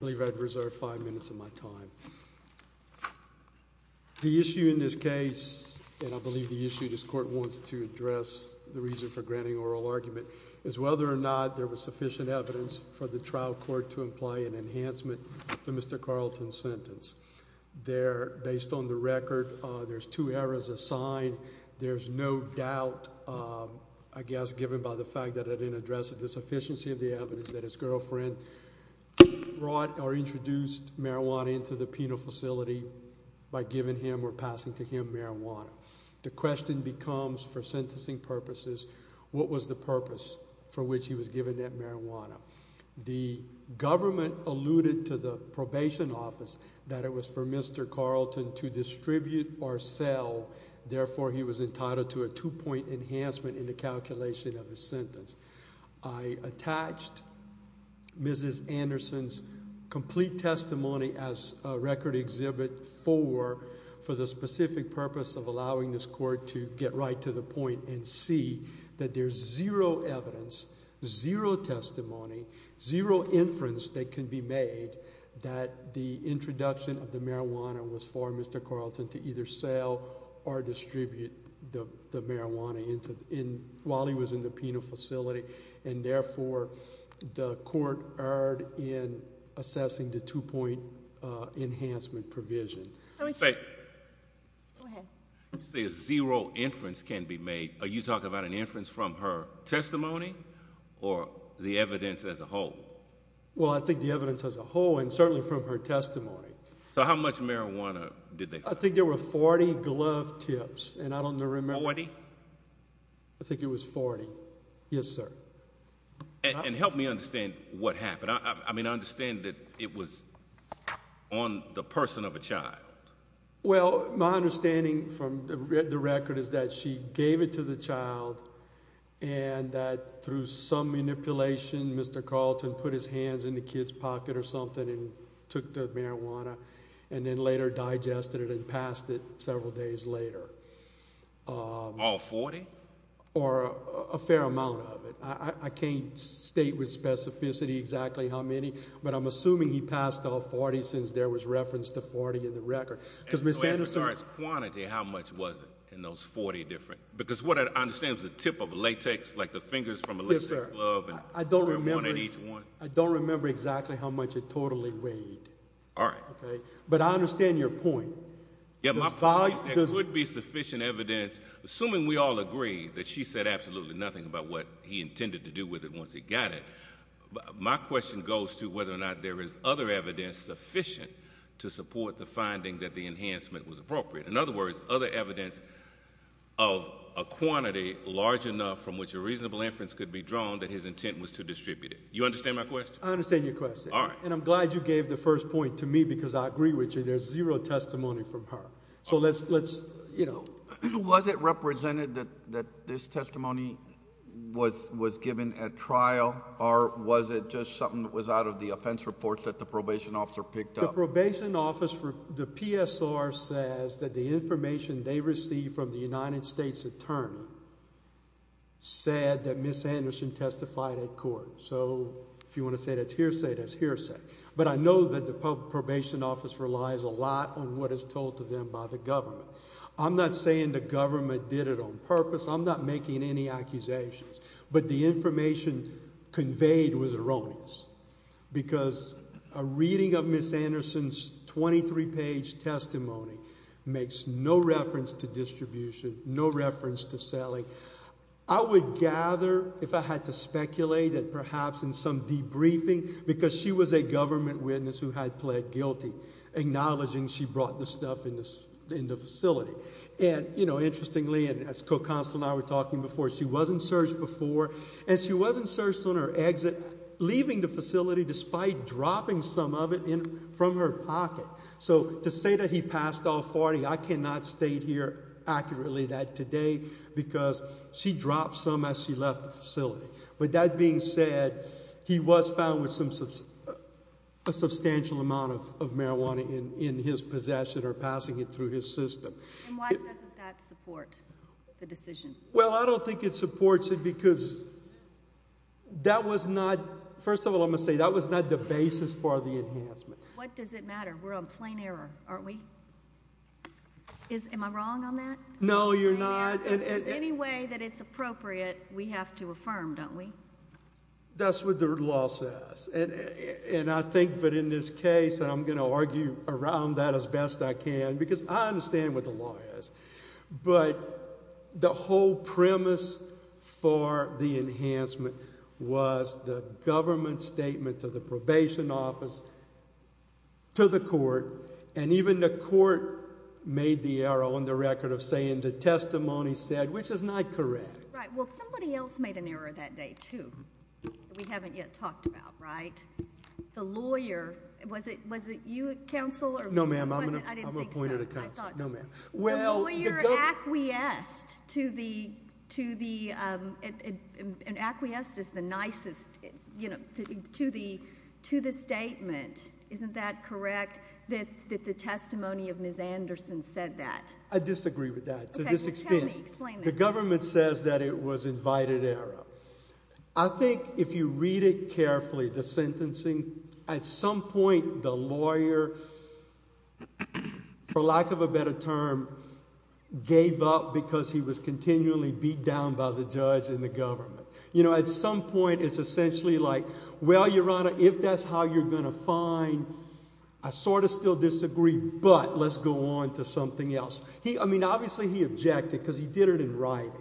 I believe I'd reserve five minutes of my time. The issue in this case, and I believe the issue this court wants to address, the reason for granting oral argument, is whether or not there was sufficient evidence for the trial court to imply an enhancement to Mr. Carlton's sentence. There, based on the record, there's two errors assigned. There's no doubt, I guess, given by the fact that I didn't address the sufficiency of the evidence that his girlfriend brought or introduced marijuana into the penal facility by giving him or passing to him marijuana. The question becomes, for sentencing purposes, what was the purpose for which he was given that marijuana? The government alluded to the probation office that it was for Mr. Carlton to distribute or sell, therefore he was entitled to a two-point enhancement in the calculation of his sentence. I attached Mrs. Anderson's complete testimony as a record exhibit for the specific purpose of allowing this court to get right to the point and see that there's zero evidence, zero testimony, zero inference that can be made that the introduction of the marijuana was for Mr. Carlton to either sell or distribute the marijuana while he was in the penal facility and therefore the court erred in assessing the two-point enhancement provision. You say zero inference can be made. Are you talking about an inference from her testimony or the evidence as a whole? Well, I think the evidence as a whole and certainly from her testimony. So how much marijuana did they find? I think there were 40 glove tips and I don't remember. 40? I think it was 40. Yes sir. And help me understand what happened. I mean I understand that it was on the person of a child. Well my understanding from the record is that she gave it to the child and that through some manipulation Mr. Carlton put his hands in the kid's pocket or something and took the marijuana and then later digested it and passed it several days later. All 40? Or a fair amount of it. I can't state with specificity exactly how many but I'm assuming he passed off 40 since there was reference to 40 in the record. Because Miss Anderson's quantity how much was it in those 40 different because what I understand is the tip of latex like the fingers from a glove. I don't remember each one. I don't remember exactly how much it totally weighed. All right. Okay. But I understand your point. Yeah my point there could be sufficient evidence assuming we all agree that she said absolutely nothing about what he intended to do with it once he got it. My question goes to whether or not there is other evidence sufficient to support the finding that the enhancement was appropriate. In other words other evidence of a quantity large enough from which a reasonable inference could be drawn that his intent was to distribute it. You understand my question? I understand your question. All right. And I'm glad you gave the first point to me because I agree there's zero testimony from her. So let's you know... Was it represented that this testimony was given at trial or was it just something that was out of the offense reports that the probation officer picked up? The probation office for the PSR says that the information they received from the United States attorney said that Miss Anderson testified at court. So if you want to say that's hearsay that's hearsay. But I know that probation office relies a lot on what is told to them by the government. I'm not saying the government did it on purpose. I'm not making any accusations. But the information conveyed was erroneous because a reading of Miss Anderson's 23 page testimony makes no reference to distribution, no reference to selling. I would gather if I had to speculate that perhaps in some debriefing because she was a government witness who had pled guilty acknowledging she brought the stuff in the facility. And you know interestingly and as Co-Counsel and I were talking before she wasn't searched before and she wasn't searched on her exit leaving the facility despite dropping some of it in from her pocket. So to say that he passed all authority I cannot state here accurately that today because she dropped some as she left the facility. But that being said he was found with a substantial amount of marijuana in his possession or passing it through his system. And why doesn't that support the decision? Well I don't think it supports it because that was not, first of all I'm going to say that was not the basis for the enhancement. What does it matter? We're on plain error aren't we? Am I wrong on that? No you're not. Any way that it's appropriate we have to affirm don't we? That's what the law says. And I think that in this case and I'm going to argue around that as best I can because I understand what the law is. But the whole premise for the enhancement was the government statement to the probation office, to the court and even the court made the error on the record of saying the testimony said, which is not correct. Right. Well somebody else made an error that day too that we haven't yet talked about right? The lawyer, was it you counsel? No ma'am I'm appointed a counsel. The lawyer acquiesced to the, acquiesced is the nicest, to the statement. Isn't that correct that the testimony of Ms. Anderson said that? I disagree with that to this extent. The government says that it was invited error. I think if you read it carefully the sentencing at some point the lawyer, for lack of a better term, gave up because he was continually beat down by the judge and the government. You know at some point it's essentially like well Your Honor if that's how you're going to find, I sort of still disagree but let's go on to something else. He, I mean obviously he objected because he did it in writing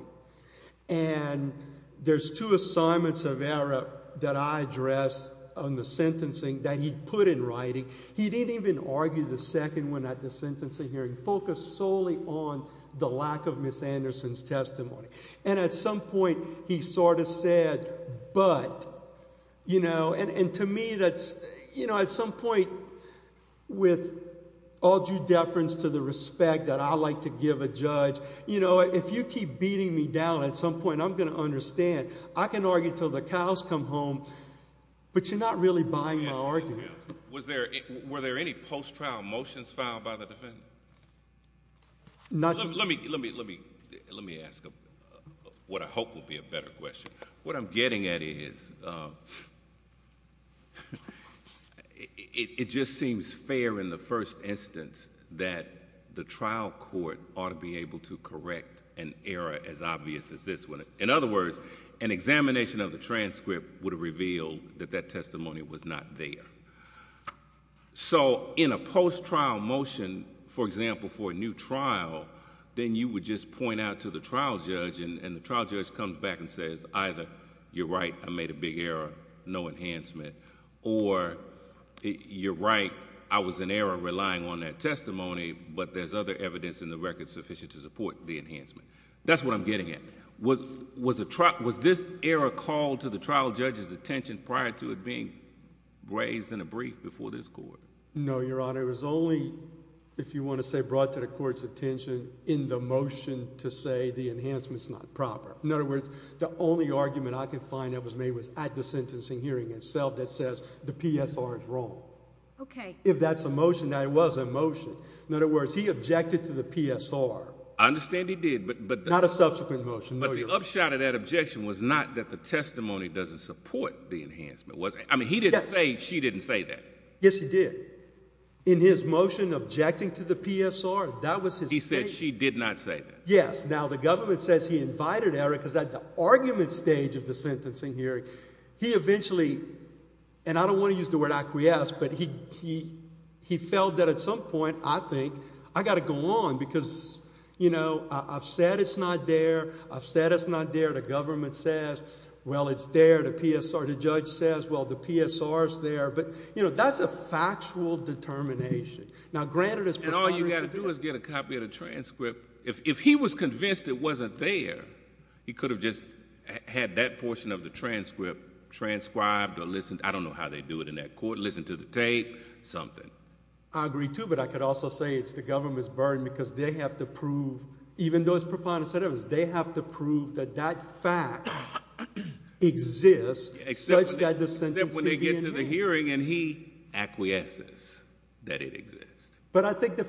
and there's two assignments of error that I addressed on the sentencing that he put in writing. He didn't even argue the second one at the sentencing hearing, focused solely on the lack of Ms. Anderson's testimony and at some point he sort of said but, you know, and to me that's, you know, at some point with all due deference to the respect that I like to give a judge, you know, if you keep beating me down at some point I'm going to understand. I can argue till the cows come home but you're not really buying my argument. Was there, were there any post-trial motions filed by the defense? Not. Let me, let me, let me, let me ask what I hope will be a better question. What I'm getting at is, it just seems fair in the first instance that the trial court ought to be able to correct an error as obvious as this one. In other words, an examination of the transcript would have revealed that that testimony was not there. So in a post-trial motion, for example for a new trial, then you would just you're right, I made a big error, no enhancement or you're right, I was in error relying on that testimony but there's other evidence in the record sufficient to support the enhancement. That's what I'm getting at. Was, was this error called to the trial judge's attention prior to it being raised in a brief before this court? No, Your Honor. It was only, if you want to say brought to the court's attention in the motion to say the enhancement's not proper. In other words, the only argument I could find that was made was at the sentencing hearing itself that says the PSR is wrong. Okay. If that's a motion, that was a motion. In other words, he objected to the PSR. I understand he did, but, but not a subsequent motion. But the upshot of that objection was not that the testimony doesn't support the enhancement, was it? I mean, he didn't say, she didn't say that. Yes, he did. In his motion objecting to the PSR, that was his statement. He said she did not say that. Yes. Now the government says he invited Eric because at the argument stage of the sentencing hearing, he eventually, and I don't want to use the word acquiesce, but he, he, he felt that at some point, I think, I got to go on because, you know, I've said it's not there. I've said it's not there. The government says, well, it's there. The PSR, the judge says, well, the PSR's there. But, you know, that's a factual determination. Now granted it's... And all you got to do is get a copy of the transcript. If, if he was convinced it wasn't there, he could have just had that portion of the transcript transcribed or listened, I don't know how they do it in that court, listen to the tape, something. I agree too, but I could also say it's the government's burden because they have to prove, even those preponderance, they have to prove that that fact exists such that the sentence... Except when they get to the hearing and he acquiesces that it exists. But I think the,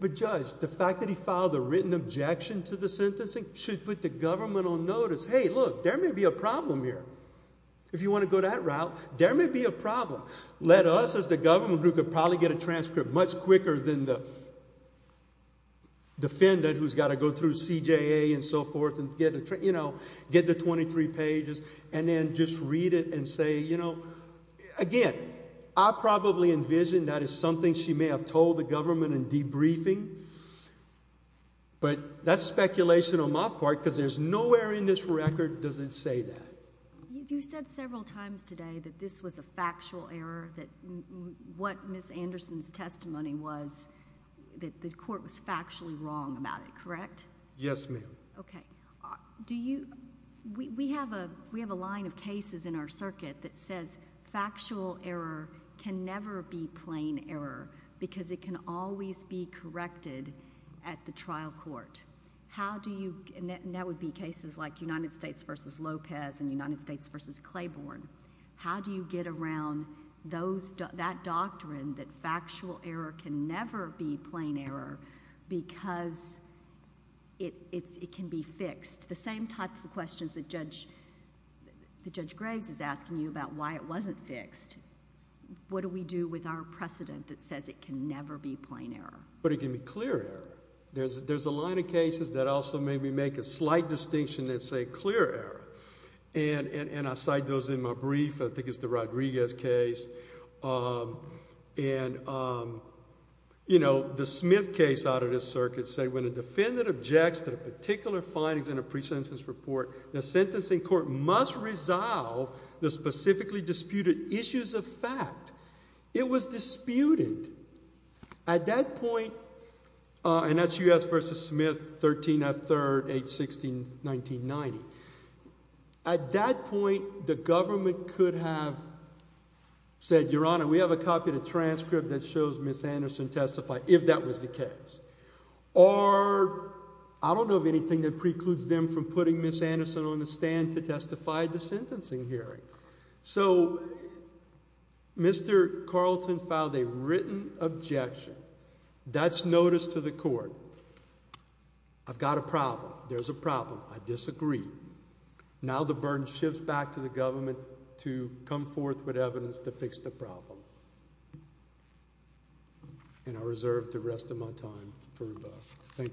the judge, the fact that he filed a written objection to the sentencing should put the government on notice. Hey, look, there may be a problem here. If you want to go that route, there may be a problem. Let us as the government group could probably get a transcript much quicker than the defendant who's got to go through CJA and so forth and get a, you know, get the 23 pages and then just read it and say, you know, again, I probably envision that is something she may have told the government in debriefing, but that's speculation on my part because there's nowhere in this record does it say that. You said several times today that this was a factual error, that what Ms. Anderson's testimony was, that the court was factually wrong about it, correct? Yes, ma'am. Okay. Do you, we have a, we have a line of cases in our circuit that says factual error can never be plain error because it can always be corrected at the trial court. How do you, and that would be cases like United States v. Lopez and United States v. Claiborne. How do you get around those, that doctrine that factual error can never be plain error because it can be fixed? The same type of questions that Judge, that Judge Graves is asking you about why it wasn't fixed. What do we do with our precedent that says it can never be plain error? But it can be clear error. There's a line of cases that also maybe make a slight distinction that say clear error. And I cite those in my brief. I think it's the Rodriguez case. And, you know, the Smith case out of this circuit said when a defendant objects to a particular findings in a pre-sentence report, the sentencing court must resolve the specifically disputed issues of fact. It was disputed. At that point, and that's U.S. v. Smith, 13 F. 3rd, 8-16, 1990. At that point, the government could have said, Your Honor, we have a copy of the transcript that shows Ms. Anderson testified, if that was the case. Or, I don't know of anything that precludes them from putting Ms. Mr. Carlton filed a written objection. That's notice to the court. I've got a problem. There's a problem. I disagree. Now the burden shifts back to the government to come forth with evidence to fix the problem. And I reserve the opportunity to do that.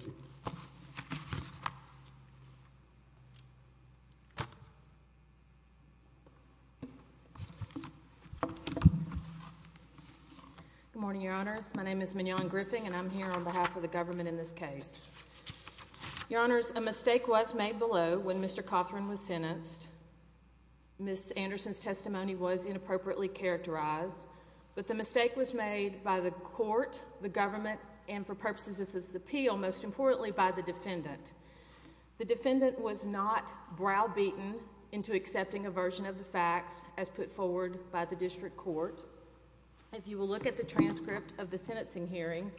Good morning, Your Honors. My name is Mignon Griffin, and I'm here on behalf of the government in this case. Your Honors, a mistake was made below when Mr. Cothran was sentenced. Ms. Anderson's testimony was inappropriately characterized. But the mistake was made by the court, the government, and for purposes of this appeal, most importantly, by the defendant. The defendant was not browbeaten into accepting a version of the facts as put forward by the district court. If you will look at the transcript of the sentencing hearing,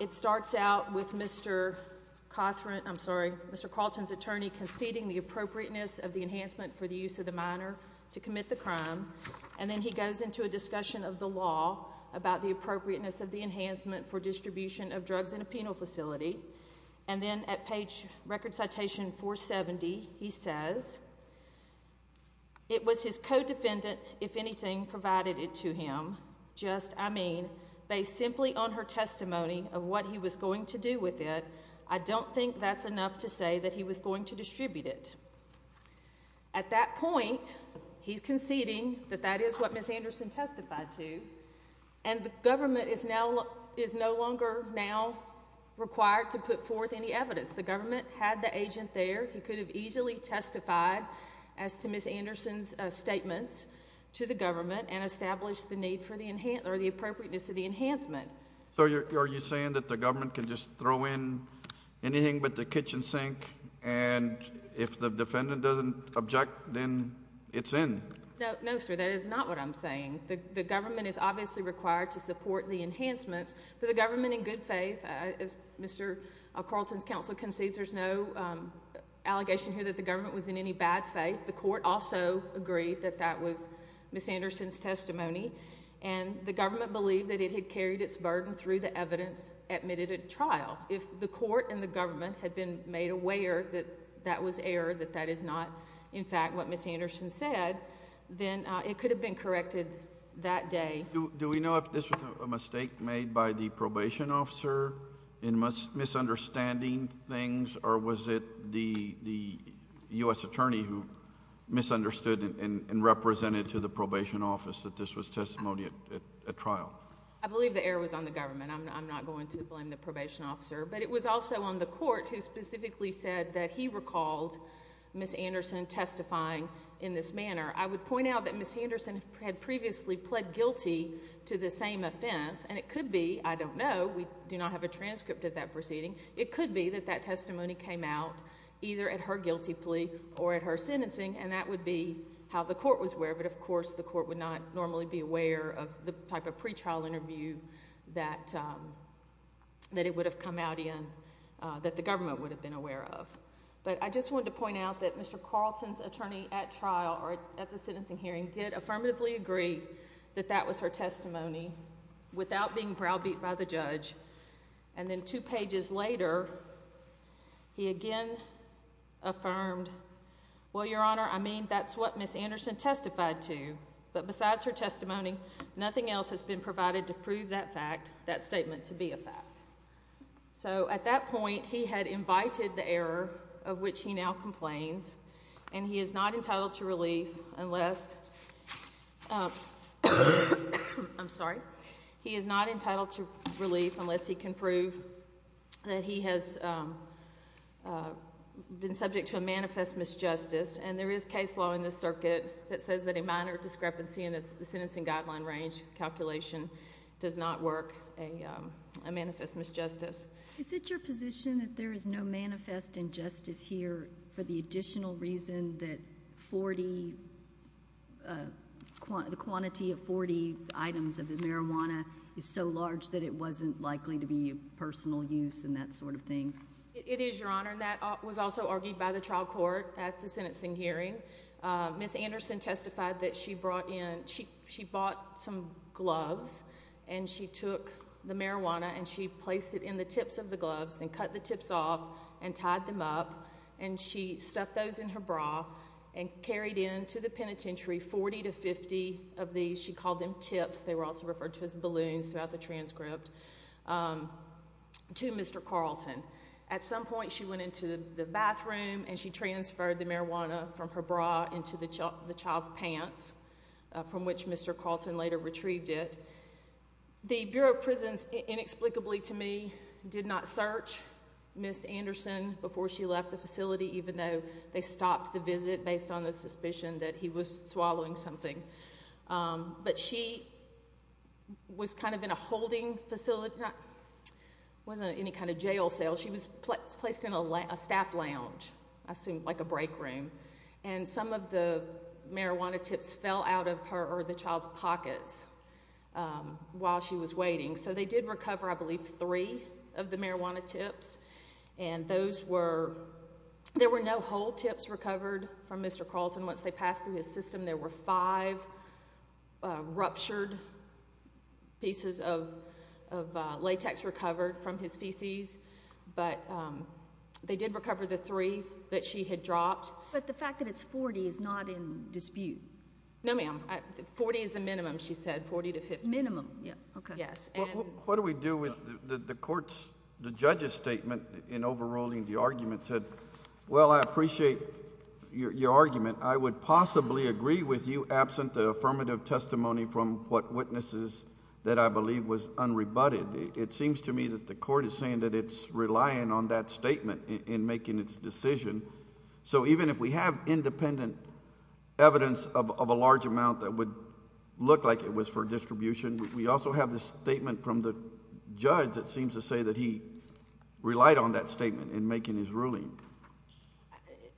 it starts out with Mr. Cothran, I'm sorry, Mr. Carlton's attorney conceding the appropriateness of the enhancement for the use of the minor to commit the crime. And then he goes into a discussion of the law about the appropriateness of the enhancement for distribution of drugs in a penal facility. And then at page record citation 470, he says, it was his co-defendant, if anything, provided it to him, just, I mean, based simply on her testimony of what he was going to do with it, I don't think that's enough to say that he was going to distribute it. At that point, he's conceding that that is what Ms. Anderson testified to, and the government is no longer now required to put forth any evidence. The government had the agent there. He could have easily testified as to Ms. Anderson's statements to the government and established the need for the appropriateness of the enhancement. So are you saying that the government can just throw in anything but the kitchen sink, and if the defendant doesn't object, then it's in? No, sir, that is not what I'm saying. The government is obviously required to support the enhancements. For the government in good faith, as Mr. Carlton's counsel concedes, there's no allegation here that the government was in any bad faith. The court also agreed that that was Ms. Anderson's testimony, and the government believed that it had carried its burden through the evidence admitted at trial. If the court and the government had been made aware that that was error, that that is not, in fact, what Ms. Anderson said, then it could have been corrected that day. Do we know if this was a mistake made by the probation officer in misunderstanding things, or was it the U.S. attorney who misunderstood and represented to the probation office that this was testimony at trial? I believe the error was on the government. I'm not going to blame the probation officer, but it was also on the court who specifically said that he recalled Ms. Anderson testifying in this manner. I would point out that Ms. Anderson did not testify to the same offense, and it could be, I don't know, we do not have a transcript of that proceeding. It could be that that testimony came out either at her guilty plea or at her sentencing, and that would be how the court was aware, but, of course, the court would not normally be aware of the type of pretrial interview that it would have come out in that the government would have been aware of. But I just wanted to point out that Mr. Carlton's attorney at trial or at the sentencing hearing did affirmatively agree that that was her testimony without being browbeat by the judge, and then two pages later, he again affirmed, well, Your Honor, I mean, that's what Ms. Anderson testified to, but besides her testimony, nothing else has been provided to prove that fact, that statement to be a fact. So at that point, he had invited the error of which he now complains, and he is not entitled to relief unless, I'm sorry, he is not entitled to relief unless he can prove that he has been subject to a manifest misjustice, and there is case law in this circuit that says that a minor discrepancy in the sentencing guideline range calculation does not work a manifest misjustice. Is it your position that there is no manifest injustice here for the additional reason that the quantity of 40 items of the marijuana is so large that it wasn't likely to be a personal use and that sort of thing? It is, Your Honor, and that was also argued by the trial court at the sentencing hearing. Ms. Anderson testified that she bought some gloves and she took the marijuana and she placed it in the tips of the gloves and cut the tips off and tied them up and she stuffed those in her bra and carried into the penitentiary 40 to 50 of these, she called them tips, they were also referred to as balloons throughout the transcript, to Mr. Carlton. At some point, she went into the bathroom and she transferred the marijuana from her bra into the child's pants, from which Mr. Carlton later found. She did not search Ms. Anderson before she left the facility even though they stopped the visit based on the suspicion that he was swallowing something. But she was kind of in a holding facility, it wasn't any kind of jail cell, she was placed in a staff lounge, I assume like a break room, and some of the marijuana tips fell out of her or the child's pockets while she was in the bathroom. There were three of the marijuana tips and those were, there were no whole tips recovered from Mr. Carlton. Once they passed through his system, there were five ruptured pieces of latex recovered from his feces, but they did recover the three that she had dropped. But the fact that it's 40 is not in dispute. No, ma'am. 40 is the minimum, she said, 40 to 50. Minimum, yeah. Okay. Yes. What do we do with the court's, the judge's statement in overruling the argument said, well, I appreciate your argument, I would possibly agree with you absent the affirmative testimony from what witnesses that I believe was unrebutted. It seems to me that the court is saying that it's relying on that statement in making its decision. So even if we have independent evidence of a large amount that would look like it was for distribution, we also have this statement from the judge that seems to say that he relied on that statement in making his ruling.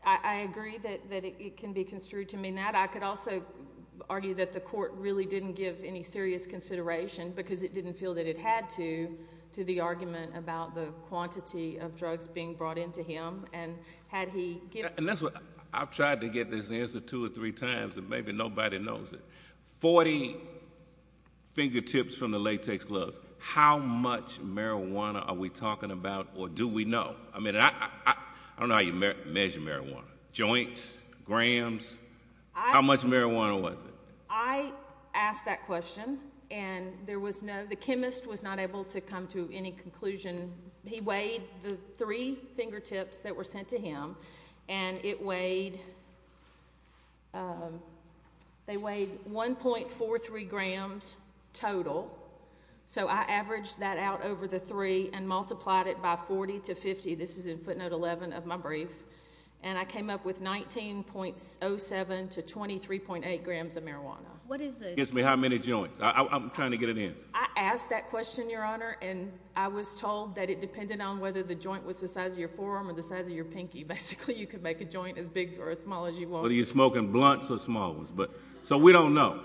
I agree that it can be construed to mean that. I could also argue that the court really didn't give any serious consideration because it didn't feel that it had to, to the argument about the quantity of drugs being brought into him. And had he given... And that's what, I've tried to get this answer two or three times and maybe nobody knows it. Forty fingertips from the latex gloves. How much marijuana are we talking about or do we know? I mean, I don't know how you measure marijuana. Joints? Grams? How much marijuana was it? I asked that question and there was no, the chemist was not able to come to any conclusion. He weighed the three fingertips that were sent to him and it weighed, they weighed 1.43 grams total. So I averaged that out over the three and multiplied it by 40 to 50. This is in footnote 11 of my brief. And I came up with 19.07 to 23.8 grams of marijuana. What is the... Excuse me, how many joints? I'm trying to get an answer. I asked that question, Your Honor, and I was told that it depended on whether the joint was the size of your forearm or the size of your pinky. Basically, you could make a joint as big or as small as you wanted. Whether you're smoking blunts or small ones. So we don't know.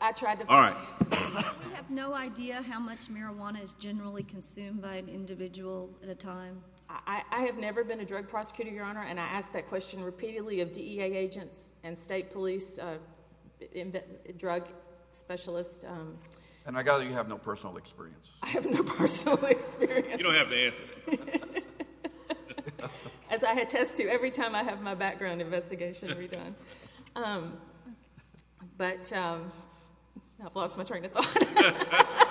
I tried to find the answer. I have no idea how much marijuana is generally consumed by an individual at a time. I have never been a drug prosecutor, Your Honor, and I asked that question repeatedly of DEA agents and state police, drug specialists. And I gather you have no personal experience. I have no personal experience. You don't have to answer that. As I attest to every time I have my background investigation redone. But I've lost my train of thought.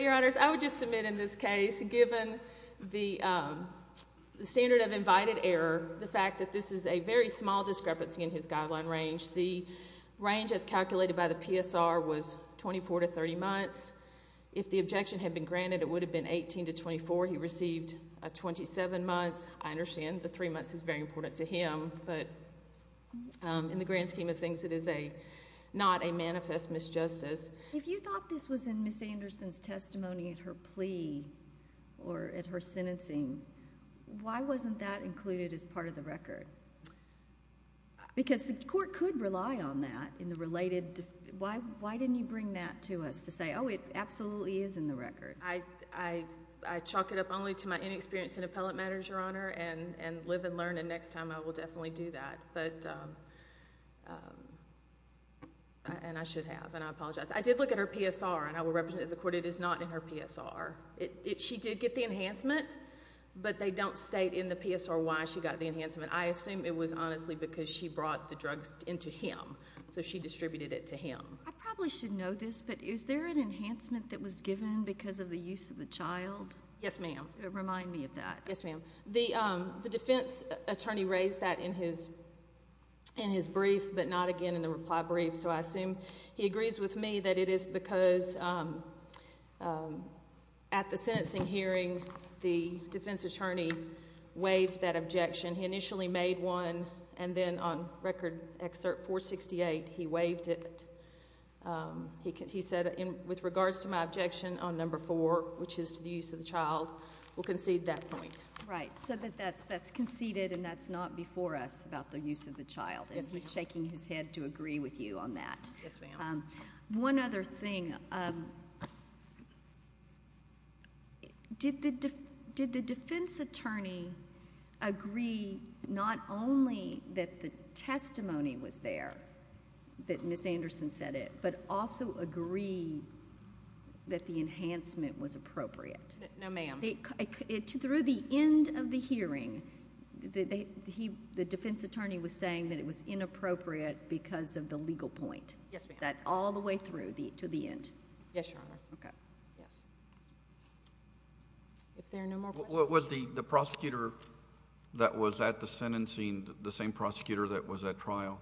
Your Honors, I would just submit in this case, given the standard of invited error, the fact that this is a very small discrepancy in his guideline range, the range as calculated by the PSR was 24 to 30 months. If the objection had been granted, it would have been 18 to 24. He received 27 months. I understand the three months is very important to him. But in the grand scheme of things, it is not a manifest misjustice. If you thought this was in Ms. Anderson's testimony at her plea or at her sentencing, why wasn't that included as part of the record? Because the court could rely on that in the related... why didn't you bring that to us to say, oh, it absolutely is in the record? I chalk it up only to my inexperience in appellate matters, Your Honor, and live and learn, and next time I will definitely do that. But... and I should have, and I apologize. I did look at her PSR, and I will represent it to the court. It is not in her PSR. She did get the enhancement, but they don't state in the PSR why she got the enhancement. I assume it was honestly because she brought the drugs into him, so she distributed it to him. I probably should know this, but is there an enhancement that was given because of the use of the child? Yes, ma'am. Remind me of that. Yes, ma'am. The defense attorney raised that in his brief, but not again in the reply brief, so I assume he agrees with me that it is because at the time that he waived that objection, he initially made one, and then on Record Excerpt 468, he waived it. He said, with regards to my objection on number four, which is to the use of the child, we'll concede that point. Right. So that's conceded, and that's not before us about the use of the child. Yes, ma'am. And he's shaking his head to agree with you on that. Yes, ma'am. One other thing. Did the defense attorney agree not only that the testimony was there, that Ms. Anderson said it, but also agree that the enhancement was appropriate? No, ma'am. Through the end of the hearing, the defense attorney was saying that it was Yes, ma'am. all the way through to the end. Yes, Your Honor. Okay. Yes. If there are no more questions. Was the prosecutor that was at the sentencing the same prosecutor that was at trial?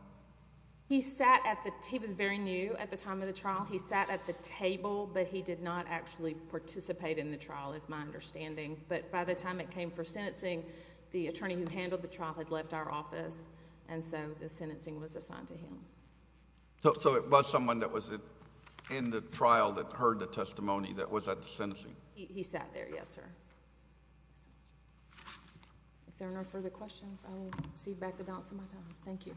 He was very new at the time of the trial. He sat at the table, but he did not actually participate in the trial, is my understanding, but by the time it came for sentencing, the attorney who handled the trial had left our office, and so the sentencing was assigned to him. So it was someone that was in the trial that heard the testimony that was at the sentencing? He sat there, yes, sir. If there are no further questions, I will cede back the balance of my time. Thank you.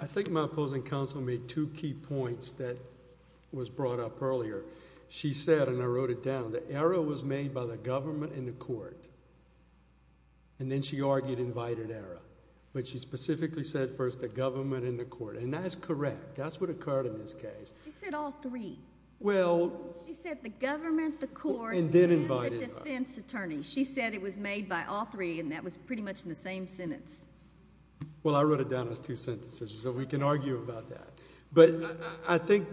I think my opposing counsel made two key points that was brought up earlier. She said, and I wrote it down, the error was made by the government and the court, and that is correct. That's what occurred in this case. She said all three. Well... She said the government, the court, and the defense attorney. She said it was made by all three, and that was pretty much in the same sentence. Well, I wrote it down as two sentences, so we can argue about that, but I think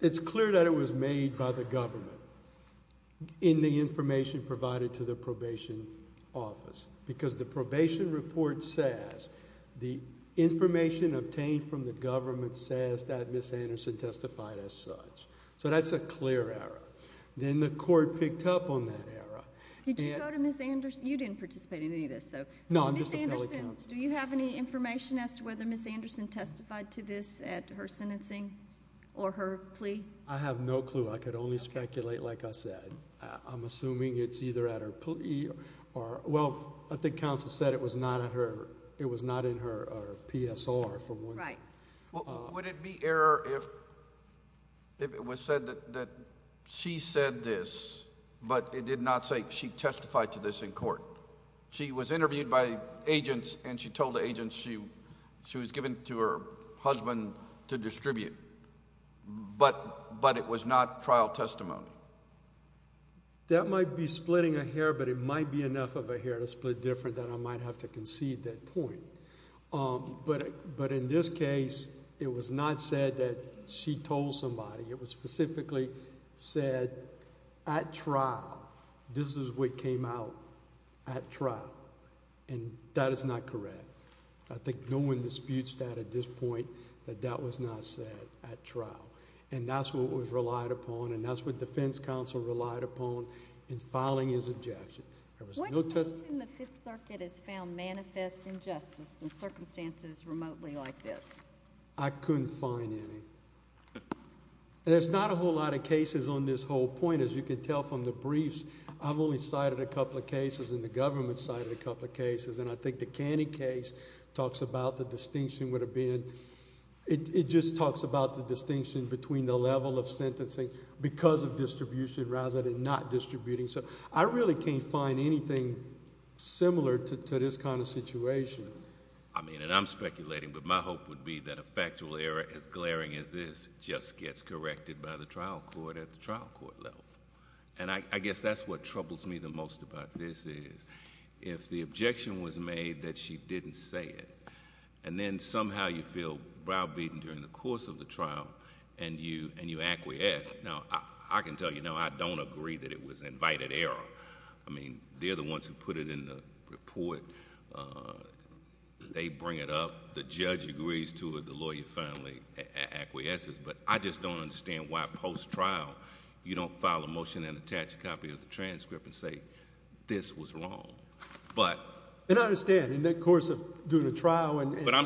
it's clear that it was made by the government in the information provided to the probation office, because the probation report says, the information obtained from the government says that Ms. Anderson testified as such. So that's a clear error. Then the court picked up on that error. Did you go to Ms. Anderson? You didn't participate in any of this, so... No, I'm just a appellate counsel. Do you have any information as to whether Ms. Anderson testified to this at her sentencing or her plea? I have no clue. I could only speculate, like I said. I'm assuming it's either at her plea or... Well, I think counsel said it was not at her... it was not in her PSR, for one. Right. Would it be error if it was said that she said this, but it did not say she testified to this in court? She was interviewed by agents, and she told the agents she was given to her husband to distribute, but it was not trial testimony. That might be splitting a hair, but it might be enough of a hair to split different that I might have to concede that point. But in this case, it was not said that she told somebody. It was specifically said at trial. This is what came out at trial, and that is not correct. I think no one disputes that at this point, that that was not said at trial, and that's what was relied upon, and that's what defense counsel relied upon in filing his objection. There was no... When can we assume the Fifth Circuit has found manifest injustice in circumstances remotely like this? I couldn't find any. There's not a whole lot of cases on this whole point. As you can tell from the briefs, I've only cited a couple of cases, and the government cited a couple of cases, and I think the Canny case talks about the distinction would have been... it just talks about the distinction between the level of sentencing because of distribution rather than not distributing. I really can't find anything similar to this kind of situation. I mean, and I'm speculating, but my hope would be that a factual error as glaring as this just gets corrected by the trial court at the trial court level. I guess that's what troubles me the most about this is if the objection was made that she didn't say it, and then somehow you feel groundbreaking during the course of the trial and you acquiesce. Now, I can tell you now I don't agree that it was invited error. I mean, they're the ones who put it in the report. They bring it up. The judge agrees to it. The lawyer finally acquiesces, but I just don't understand why post-trial you don't file a motion and attach a copy of the transcript and say, this was wrong. But... I'm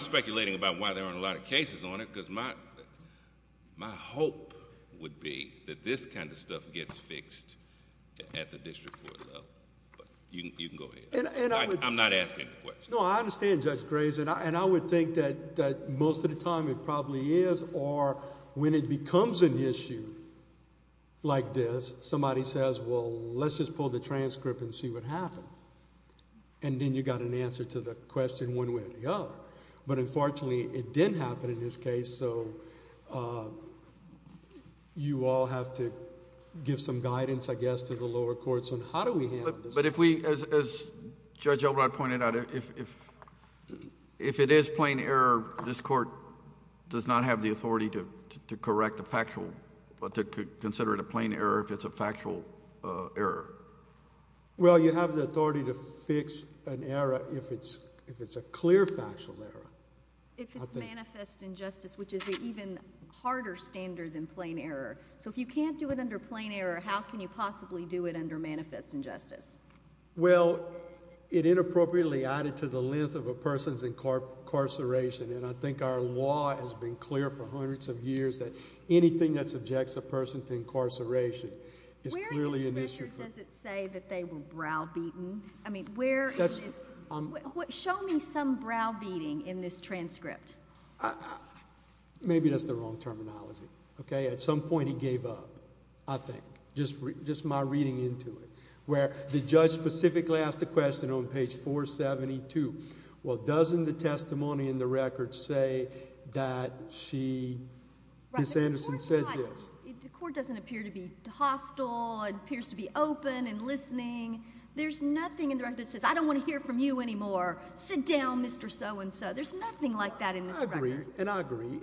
speculating about why there aren't a lot of cases on it because my hope would be that this kind of stuff gets fixed at the district court level, but you can go ahead. I'm not asking a question. No, I understand Judge Graves, and I would think that most of the time it probably is or when it becomes an issue like this, somebody says, well, let's just pull the transcript and see what happened. Then you got an question one way or the other, but unfortunately, it didn't happen in this case, so you all have to give some guidance, I guess, to the lower courts on how do we handle this. But if we... as Judge Elrod pointed out, if it is plain error, this court does not have the authority to correct a factual... to consider it a plain error if it's a factual error. Well, you have the authority to fix an error if it's a clear factual error. If it's manifest injustice, which is an even harder standard than plain error. So if you can't do it under plain error, how can you possibly do it under manifest injustice? Well, it inappropriately added to the length of a person's incarceration, and I think our law has been clear for hundreds of years that anything that they were browbeaten... I mean, where... Show me some browbeating in this transcript. Maybe that's the wrong terminology, okay? At some point he gave up, I think, just my reading into it, where the judge specifically asked the question on page 472, well, doesn't the testimony in the record say that she... Ms. Anderson said this. The court doesn't appear to be hostile. It appears to be open and listening. There's nothing in the record that says, I don't want to hear from you anymore. Sit down, Mr. So-and-so. There's nothing like that in this record. I agree, and I agree.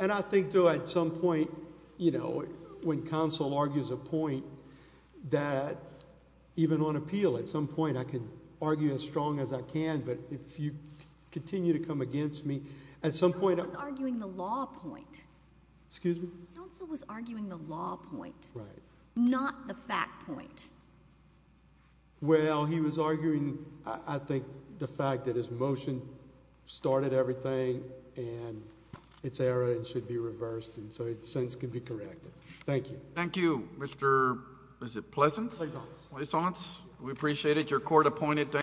And I think, too, at some point, you know, when counsel argues a point that, even on appeal, at some point I can argue as strong as I can, but if you continue to come against me, at some point... Counsel was arguing the law point. Excuse me? Counsel was arguing the law point, not the fact point. Well, he was arguing, I think, the fact that his motion started everything and it's error and should be reversed, and so it, in a sense, can be corrected. Thank you. Thank you, Mr.... Is it Pleasance? Pleasance. Pleasance. We appreciate it. Your court appointed.